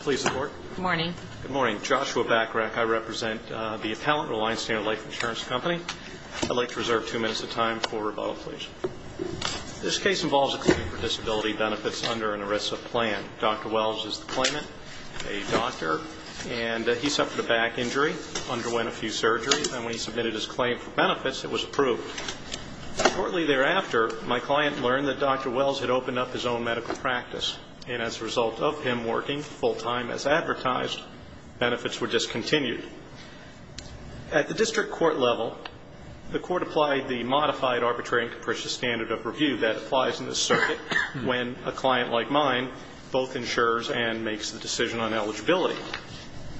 Please report. Good morning. Good morning. Joshua Bacarach. I represent the Appellant Reliance Standard Life Insurance Company. I'd like to reserve two minutes of time for rebuttal, please. This case involves a claim for disability benefits under an ERISA plan. Dr. Wells is the claimant, a doctor, and he suffered a back injury, underwent a few surgeries, and when he submitted his claim for benefits, it was approved. Shortly thereafter, my client learned that Dr. Wells was not working full-time as advertised. Benefits were discontinued. At the district court level, the court applied the modified arbitrary and capricious standard of review that applies in this circuit when a client like mine both insures and makes the decision on eligibility.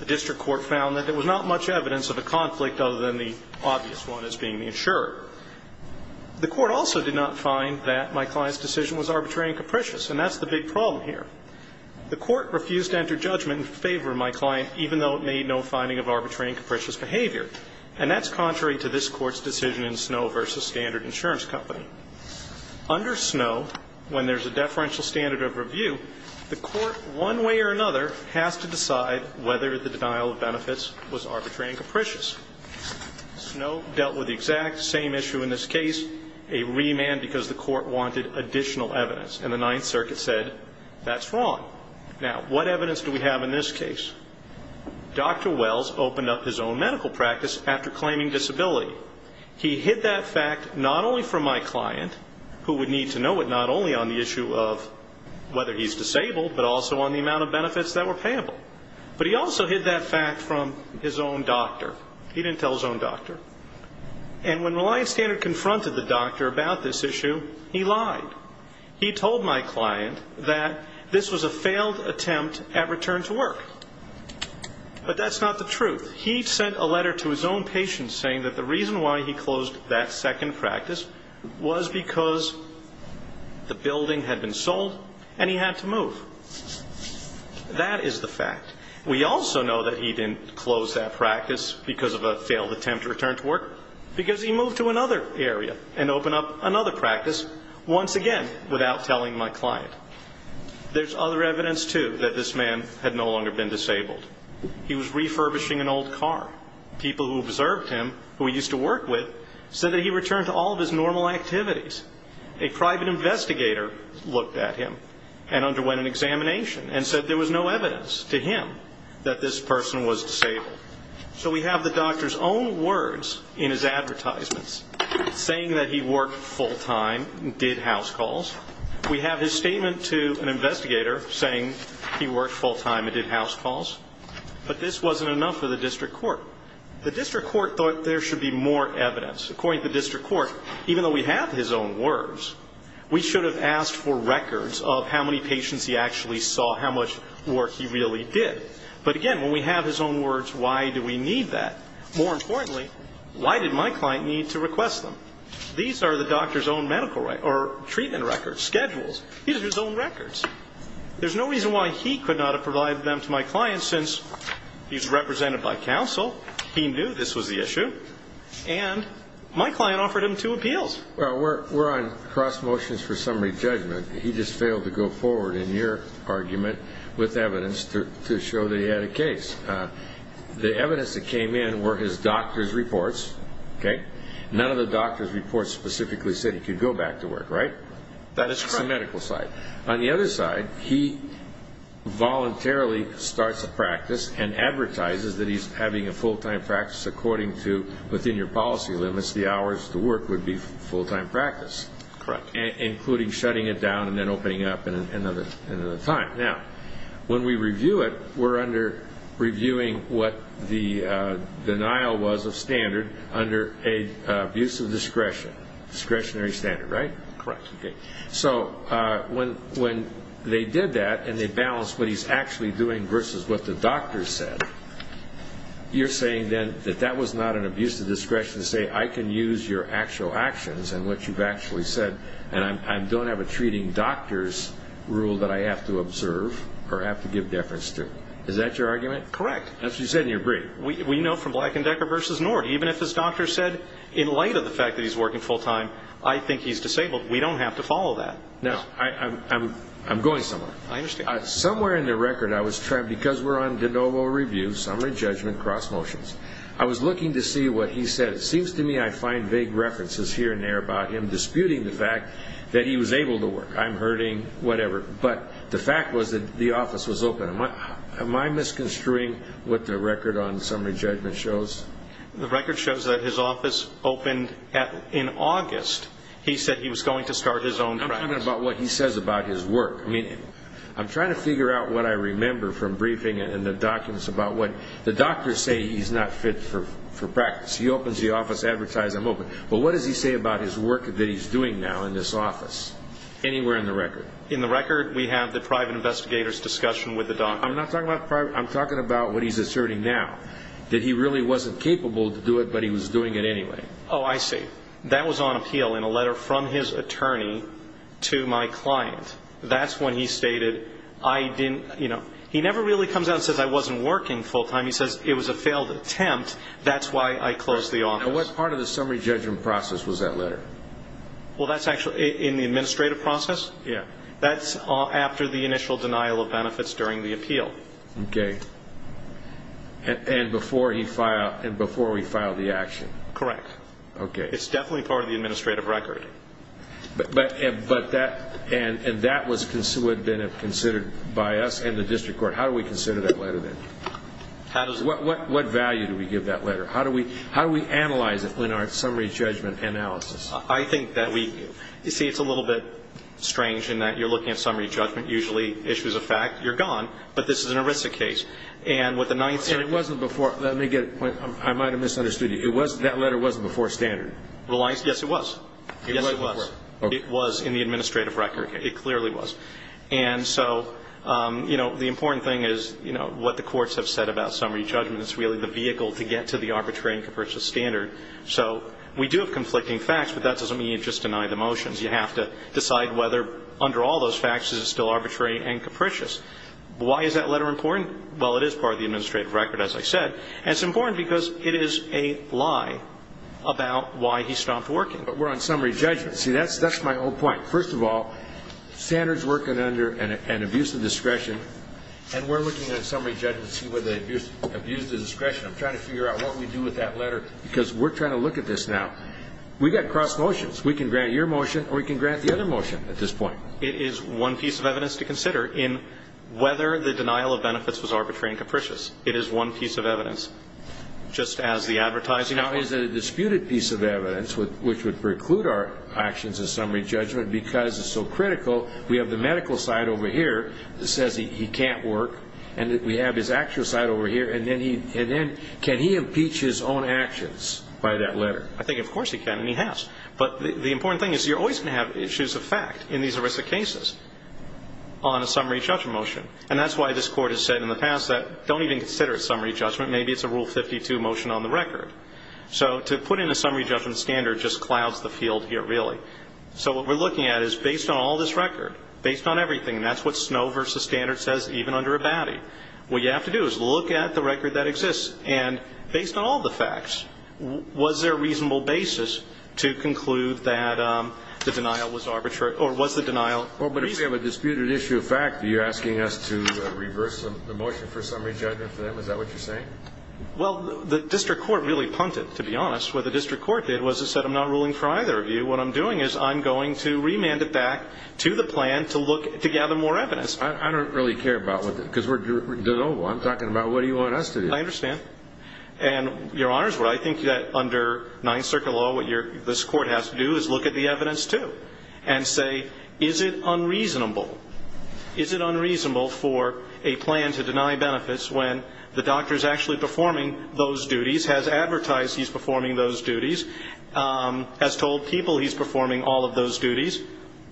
The district court found that there was not much evidence of a conflict other than the obvious one as being the insurer. The court also did not find that my client's decision was arbitrary and capricious, and that's the big problem here. The court refused to enter judgment in favor of my client, even though it made no finding of arbitrary and capricious behavior, and that's contrary to this court's decision in Snow v. Standard Insurance Company. Under Snow, when there's a deferential standard of review, the court, one way or another, has to decide whether the denial of benefits was arbitrary and capricious. Snow dealt with the exact same issue in this case, a remand because the court wanted additional evidence, and the Ninth Circuit said, that's wrong. Now, what evidence do we have in this case? Dr. Wells opened up his own medical practice after claiming disability. He hid that fact not only from my client, who would need to know it not only on the issue of whether he's disabled, but also on the amount of benefits that were payable. But he also hid that fact from his own doctor. He didn't tell his own doctor. And when Reliance Standard confronted the doctor about this issue, he lied. He told my client that this was a failed attempt at return to work. But that's not the truth. He sent a letter to his own patient saying that the reason why he closed that second practice was because the building had been sold and he had to move. That is the fact. We also know that he didn't close that practice because of a failed attempt to return to another area and open up another practice once again without telling my client. There's other evidence, too, that this man had no longer been disabled. He was refurbishing an old car. People who observed him, who he used to work with, said that he returned to all of his normal activities. A private investigator looked at him and underwent an examination and said there was no evidence to him that this person was disabled. So we have the doctor's own words in his advertisements saying that he worked full-time and did house calls. We have his statement to an investigator saying he worked full-time and did house calls. But this wasn't enough for the district court. The district court thought there should be more evidence. According to the district court, even though we have his own words, we should have asked for records of how many patients he actually saw, how much work he really did. But again, when we have his own words, why do we need that? More importantly, why did my client need to request them? These are the doctor's own medical records or treatment records, schedules. These are his own records. There's no reason why he could not have provided them to my client since he's represented by counsel, he knew this was the issue, and my client offered him two appeals. Well, we're on cross motions for summary judgment. He just failed to go forward in your argument with evidence to show that he had a case. The evidence that came in were his doctor's reports, okay? None of the doctor's reports specifically said he could go back to work, right? That is the medical side. On the other side, he voluntarily starts a practice and advertises that he's having a full-time practice according to, within your policy limits, the hours to work would be full-time practice. Correct. Including shutting it down and then opening up at another time. Now, when we review it, we're under reviewing what the denial was of standard under an abuse of discretion. Discretionary standard, right? Correct. So when they did that and they balanced what he's actually doing versus what the doctor said, you're saying then that that was not an abuse of discretion to say, I can use your actual actions and what you've actually said, and I don't have a treating doctor's rule that I have to observe or have to give deference to. Is that your argument? Correct. That's what you said and you agree. We know from Black and Decker versus Nord, even if his doctor said, in light of the fact that he's working full-time, I think he's disabled. We don't have to follow that. Now, I'm going somewhere. I understand. Somewhere in the record, I was trying, because we're on de novo review, summary judgment, cross motions, I was looking to see what he said. It seems to me I find vague references here and there about him hurting, whatever. But the fact was that the office was open. Am I misconstruing what the record on summary judgment shows? The record shows that his office opened in August. He said he was going to start his own practice. I'm talking about what he says about his work. I mean, I'm trying to figure out what I remember from briefing and the documents about what the doctors say he's not fit for practice. He opens the office, advertise, I'm open. But what does he say about his doing now in this office? Anywhere in the record? In the record, we have the private investigator's discussion with the doctor. I'm not talking about private, I'm talking about what he's asserting now, that he really wasn't capable to do it, but he was doing it anyway. Oh, I see. That was on appeal in a letter from his attorney to my client. That's when he stated, I didn't, you know, he never really comes out and says I wasn't working full-time. He says it was a failed attempt. That's why I closed the office. Now, what part of the summary judgment process was that letter? Well, that's actually in the administrative process. Yeah. That's after the initial denial of benefits during the appeal. Okay. And before he filed, and before we filed the action? Correct. Okay. It's definitely part of the administrative record. But, but, but that, and, and that was considered, would have been considered by us and the district court. How do we consider that letter then? How does, what, what, what value do we give that letter? How do we, how do we analyze it in our summary judgment analysis? I think that we, you see, it's a little bit strange in that you're looking at summary judgment, usually issues of fact, you're gone, but this is an ERISA case. And with the ninth- And it wasn't before, let me get, I might have misunderstood you. It was, that letter wasn't before standard. Reliance? Yes, it was. Yes, it was. It was in the administrative record. It clearly was. And so, you know, the important thing is, you know, what the courts have said about summary judgment is really the vehicle to get to the arbitrary and capricious standard. So, we do have conflicting facts, but that doesn't mean you just deny the motions. You have to decide whether, under all those facts, is it still arbitrary and capricious. Why is that letter important? Well, it is part of the administrative record, as I said. And it's important because it is a lie about why he stopped working. But we're on summary judgment. See, that's, that's my whole point. First of all, standard's working under an, an abuse of discretion. And we're looking at summary judgment to see whether the abuse, abuse of discretion. I'm trying to figure out what we do with that letter. Because we're trying to look at this now. We got cross motions. We can grant your motion, or we can grant the other motion at this point. It is one piece of evidence to consider in whether the denial of benefits was arbitrary and capricious. It is one piece of evidence. Just as the advertising- Now, is it a disputed piece of evidence with, which would preclude our actions in summary judgment because it's so critical. We have the medical side over here that says he, he can't work. And we have his actual side over here. And then he, and then, can he impeach his own actions by that letter? I think of course he can and he has. But the, the important thing is you're always going to have issues of fact in these aristic cases on a summary judgment motion. And that's why this court has said in the past that don't even consider it summary judgment. Maybe it's a Rule 52 motion on the record. So to put in a summary judgment standard just clouds the field here really. So what we're looking at is based on all this record, based on everything, and that's what Snow v. Standard says even under Abadie. What you have to do is look at the record that exists. And based on all the facts, was there a reasonable basis to conclude that the denial was arbitrary or was the denial- Well, but if we have a disputed issue of fact, you're asking us to reverse the motion for summary judgment for them. Is that what you're saying? Well, the district court really punted, to be honest. What the district court did was it said, I'm not ruling for either of you. What I'm doing is I'm going to remand it back to the plan to look, to gather more evidence. I don't really care about what the, because we're doing, I'm talking about what do you want us to do? I understand. And Your Honors, what I think that under Ninth Circuit law, what your, this court has to do is look at the evidence too and say, is it unreasonable? Is it unreasonable for a plan to deny benefits when the doctor's actually performing those duties, has advertised he's performing those duties, has told people he's performing all of those duties,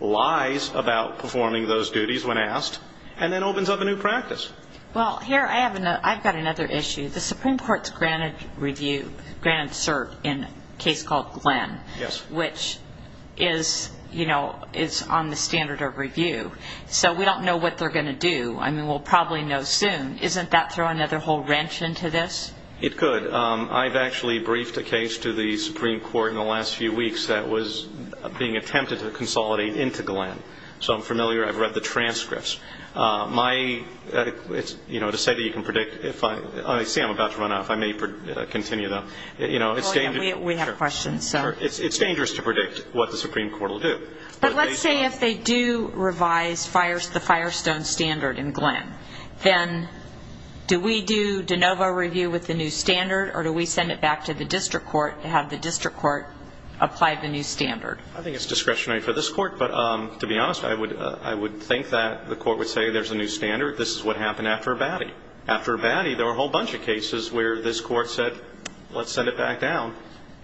lies about performing those duties when asked, and then opens up a new practice. Well, here I have another, I've got another issue. The Supreme Court's granted review, granted cert in a case called Glenn, which is, you know, is on the standard of review. So we don't know what they're going to do. I mean, we'll probably know soon. Isn't that throw another whole wrench into this? It could. I've actually briefed a case to the Supreme Court in the last few weeks that was being attempted to consolidate into Glenn. So I'm familiar, I've read the transcripts. My, you know, to say that you can predict, if I, I see I'm about to run out. If I may continue, though. You know, it's dangerous. We have questions, so. It's dangerous to predict what the Supreme Court will do. But let's say if they do revise the Firestone standard in Glenn, then do we do de novo review with the new standard, or do we send it back to the district court, apply the new standard? I think it's discretionary for this court, but to be honest, I would, I would think that the court would say there's a new standard. This is what happened after Abadie. After Abadie, there were a whole bunch of cases where this court said, let's send it back down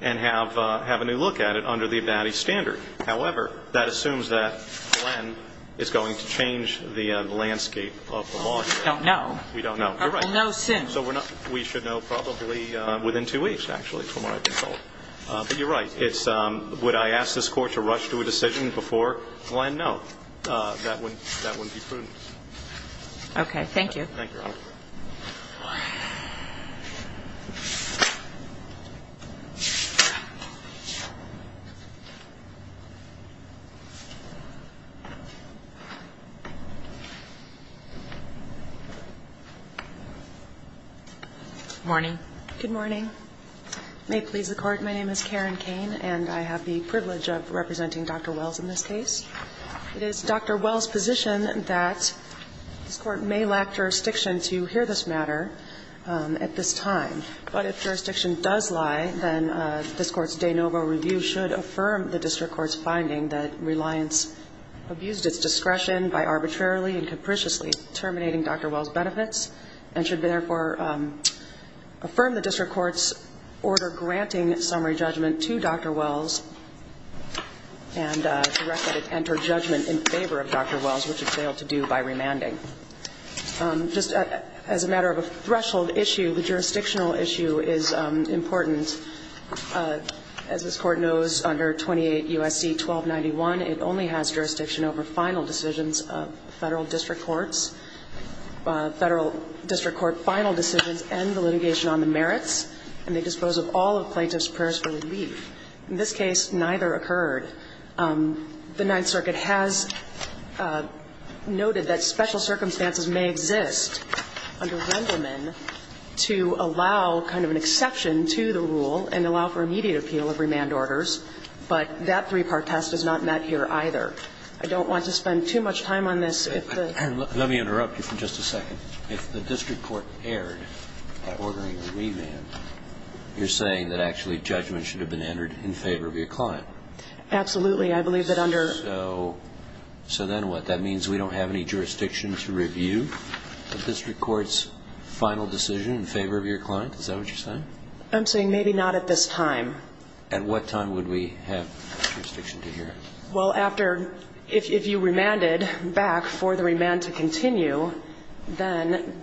and have, have a new look at it under the Abadie standard. However, that assumes that Glenn is going to change the landscape of the law. We don't know. We don't know. You're right. We'll know soon. But you're right. It's, would I ask this court to rush to a decision before Glenn? No. That wouldn't, that wouldn't be prudent. Okay. Thank you. Thank you, Your Honor. Morning. Good morning. May it please the Court, my name is Karen Kane, and I have the privilege of representing Dr. Wells in this case. It is Dr. Wells' position that this court may lack jurisdiction to hear this matter at this time, but if jurisdiction does lie, then this Court's de novo review should affirm the district court's finding that Reliance abused its discretion by arbitrarily and capriciously terminating Dr. Wells' benefits and should therefore affirm the district court's order granting summary judgment to Dr. Wells and direct that it enter judgment in favor of Dr. Wells, which it failed to do by remanding. Just as a matter of a threshold issue, the jurisdictional issue is important. As this Court knows, under 28 U.S.C. 1291, it only has jurisdiction over final decisions of federal district courts. Federal district court final decisions end the litigation on the merits, and they dispose of all of plaintiff's prayers for relief. In this case, neither occurred. The Ninth Circuit has noted that special circumstances may exist under Wendelman to allow kind of an exception to the rule and allow for immediate appeal of remand orders, but that three-part test is not met here either. I don't want to spend too much time on this if the ---- Let me interrupt you for just a second. If the district court erred by ordering a remand, you're saying that actually judgment should have been entered in favor of your client? Absolutely. I believe that under ---- So then what? That means we don't have any jurisdiction to review the district court's final decision in favor of your client? Is that what you're saying? I'm saying maybe not at this time. At what time would we have jurisdiction to hear it? Well, after ---- if you remanded back for the remand to continue, then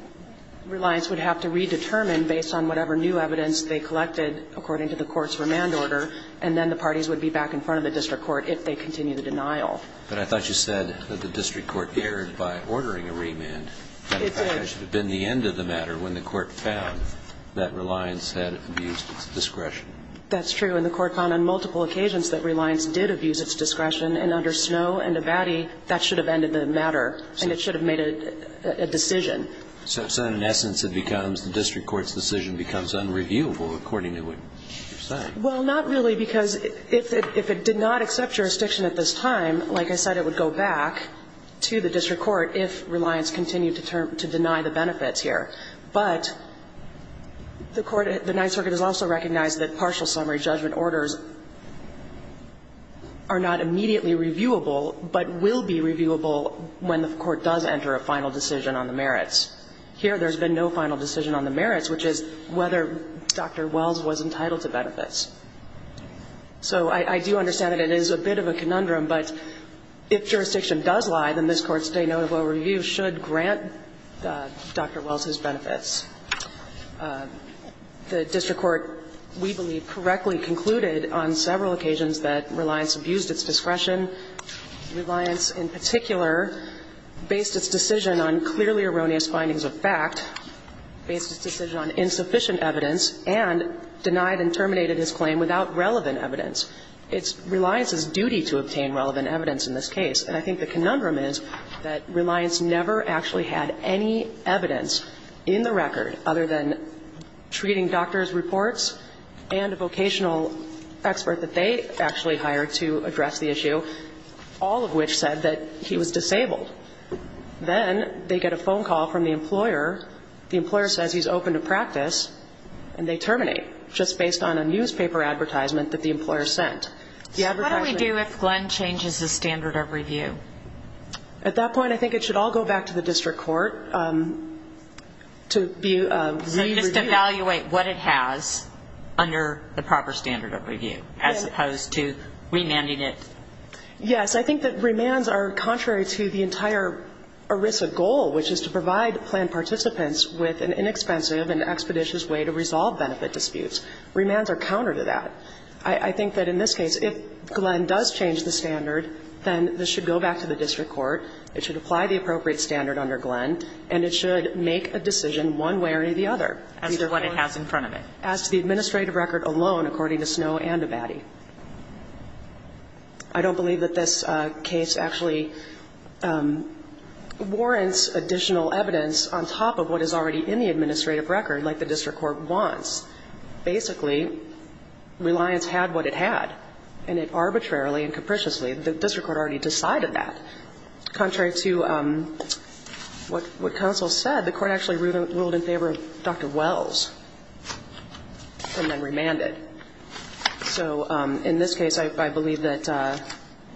Reliance would have to redetermine based on whatever new evidence they collected according to the court's remand order, and then the parties would be back in front of the district court if they continue the denial. But I thought you said that the district court erred by ordering a remand. It did. In fact, that should have been the end of the matter when the court found that Reliance had abused its discretion. That's true. When the court found on multiple occasions that Reliance did abuse its discretion, and under Snow and Abadie, that should have ended the matter, and it should have made a decision. So in essence it becomes the district court's decision becomes unreviewable according to what you're saying. Well, not really, because if it did not accept jurisdiction at this time, like I said, it would go back to the district court if Reliance continued to deny the benefits But the court, the Ninth Circuit has also recognized that partial summary judgment orders are not immediately reviewable, but will be reviewable when the court does enter a final decision on the merits. Here there's been no final decision on the merits, which is whether Dr. Wells was entitled to benefits. So I do understand that it is a bit of a conundrum, but if jurisdiction does lie, then this Court's denotable review should grant Dr. Wells his benefits. The district court, we believe, correctly concluded on several occasions that Reliance abused its discretion. Reliance, in particular, based its decision on clearly erroneous findings of fact, based its decision on insufficient evidence, and denied and terminated its claim without relevant evidence. It's Reliance's duty to obtain relevant evidence in this case. And I think the conundrum is that Reliance never actually had any evidence in the record other than treating doctor's reports and a vocational expert that they actually hired to address the issue, all of which said that he was disabled. Then they get a phone call from the employer. The employer says he's open to practice, and they terminate just based on a newspaper advertisement that the employer sent. So what do we do if Glenn changes his standard of review? At that point, I think it should all go back to the district court to be re-reviewed. So just evaluate what it has under the proper standard of review as opposed to remanding it? Yes. I think that remands are contrary to the entire ERISA goal, which is to provide planned participants with an inexpensive and expeditious way to resolve benefit disputes. Remands are counter to that. I think that in this case, if Glenn does change the standard, then this should go back to the district court. It should apply the appropriate standard under Glenn, and it should make a decision one way or the other. As to what it has in front of it. As to the administrative record alone, according to Snow and Abadie. I don't believe that this case actually warrants additional evidence on top of what is already in the administrative record, like the district court wants. Basically, Reliance had what it had, and it arbitrarily and capriciously the district court already decided that. Contrary to what counsel said, the court actually ruled in favor of Dr. Wells and then remanded. So in this case, I believe that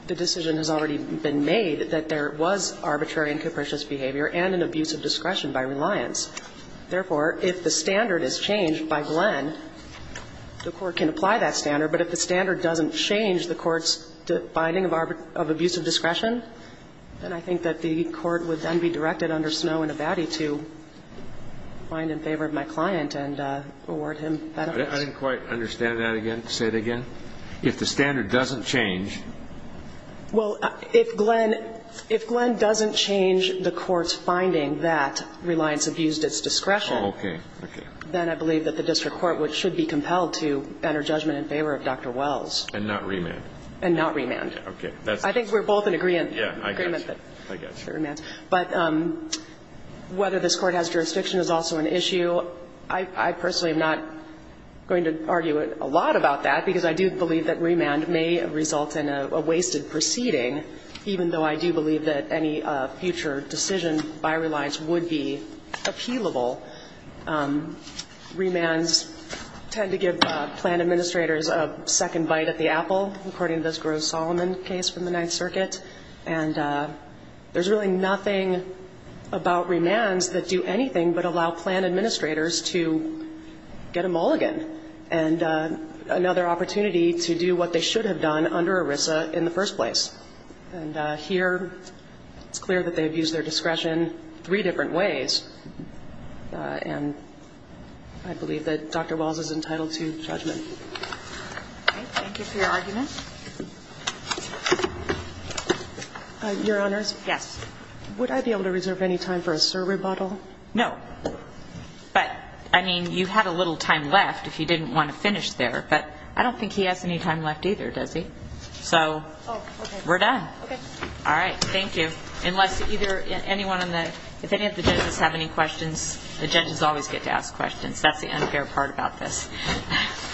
the decision has already been made that there was arbitrary and capricious behavior and an abuse of discretion by Reliance. Therefore, if the standard is changed by Glenn, the court can apply that standard. But if the standard doesn't change the court's finding of abuse of discretion, then I think that the court would then be directed under Snow and Abadie to find in favor of my client and award him that evidence. I didn't quite understand that again. Say it again. If the standard doesn't change. Well, if Glenn doesn't change the court's finding that Reliance abused its discretion. Oh, okay. Then I believe that the district court should be compelled to enter judgment in favor of Dr. Wells. And not remand. And not remand. Okay. I think we're both in agreement. Yeah, I got you. But whether this Court has jurisdiction is also an issue. I personally am not going to argue a lot about that, because I do believe that remand may result in a wasted proceeding, even though I do believe that any future decision by Reliance would be appealable. Remands tend to give plan administrators a second bite at the apple, according to this Gross-Solomon case from the Ninth Circuit. And there's really nothing about remands that do anything but allow plan administrators to get a mulligan. And another opportunity to do what they should have done under ERISA in the first place. And here it's clear that they've used their discretion three different ways. And I believe that Dr. Wells is entitled to judgment. Okay. Thank you for your argument. Your Honors? Yes. Would I be able to reserve any time for a survey bottle? No. But, I mean, you had a little time left if you didn't want to finish there. But I don't think he has any time left either, does he? So we're done. Okay. All right. Thank you. Unless either anyone on the – if any of the judges have any questions, the judges always get to ask questions. That's the unfair part about this.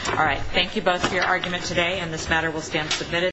All right. Thank you both for your argument today, and this matter will stand submitted.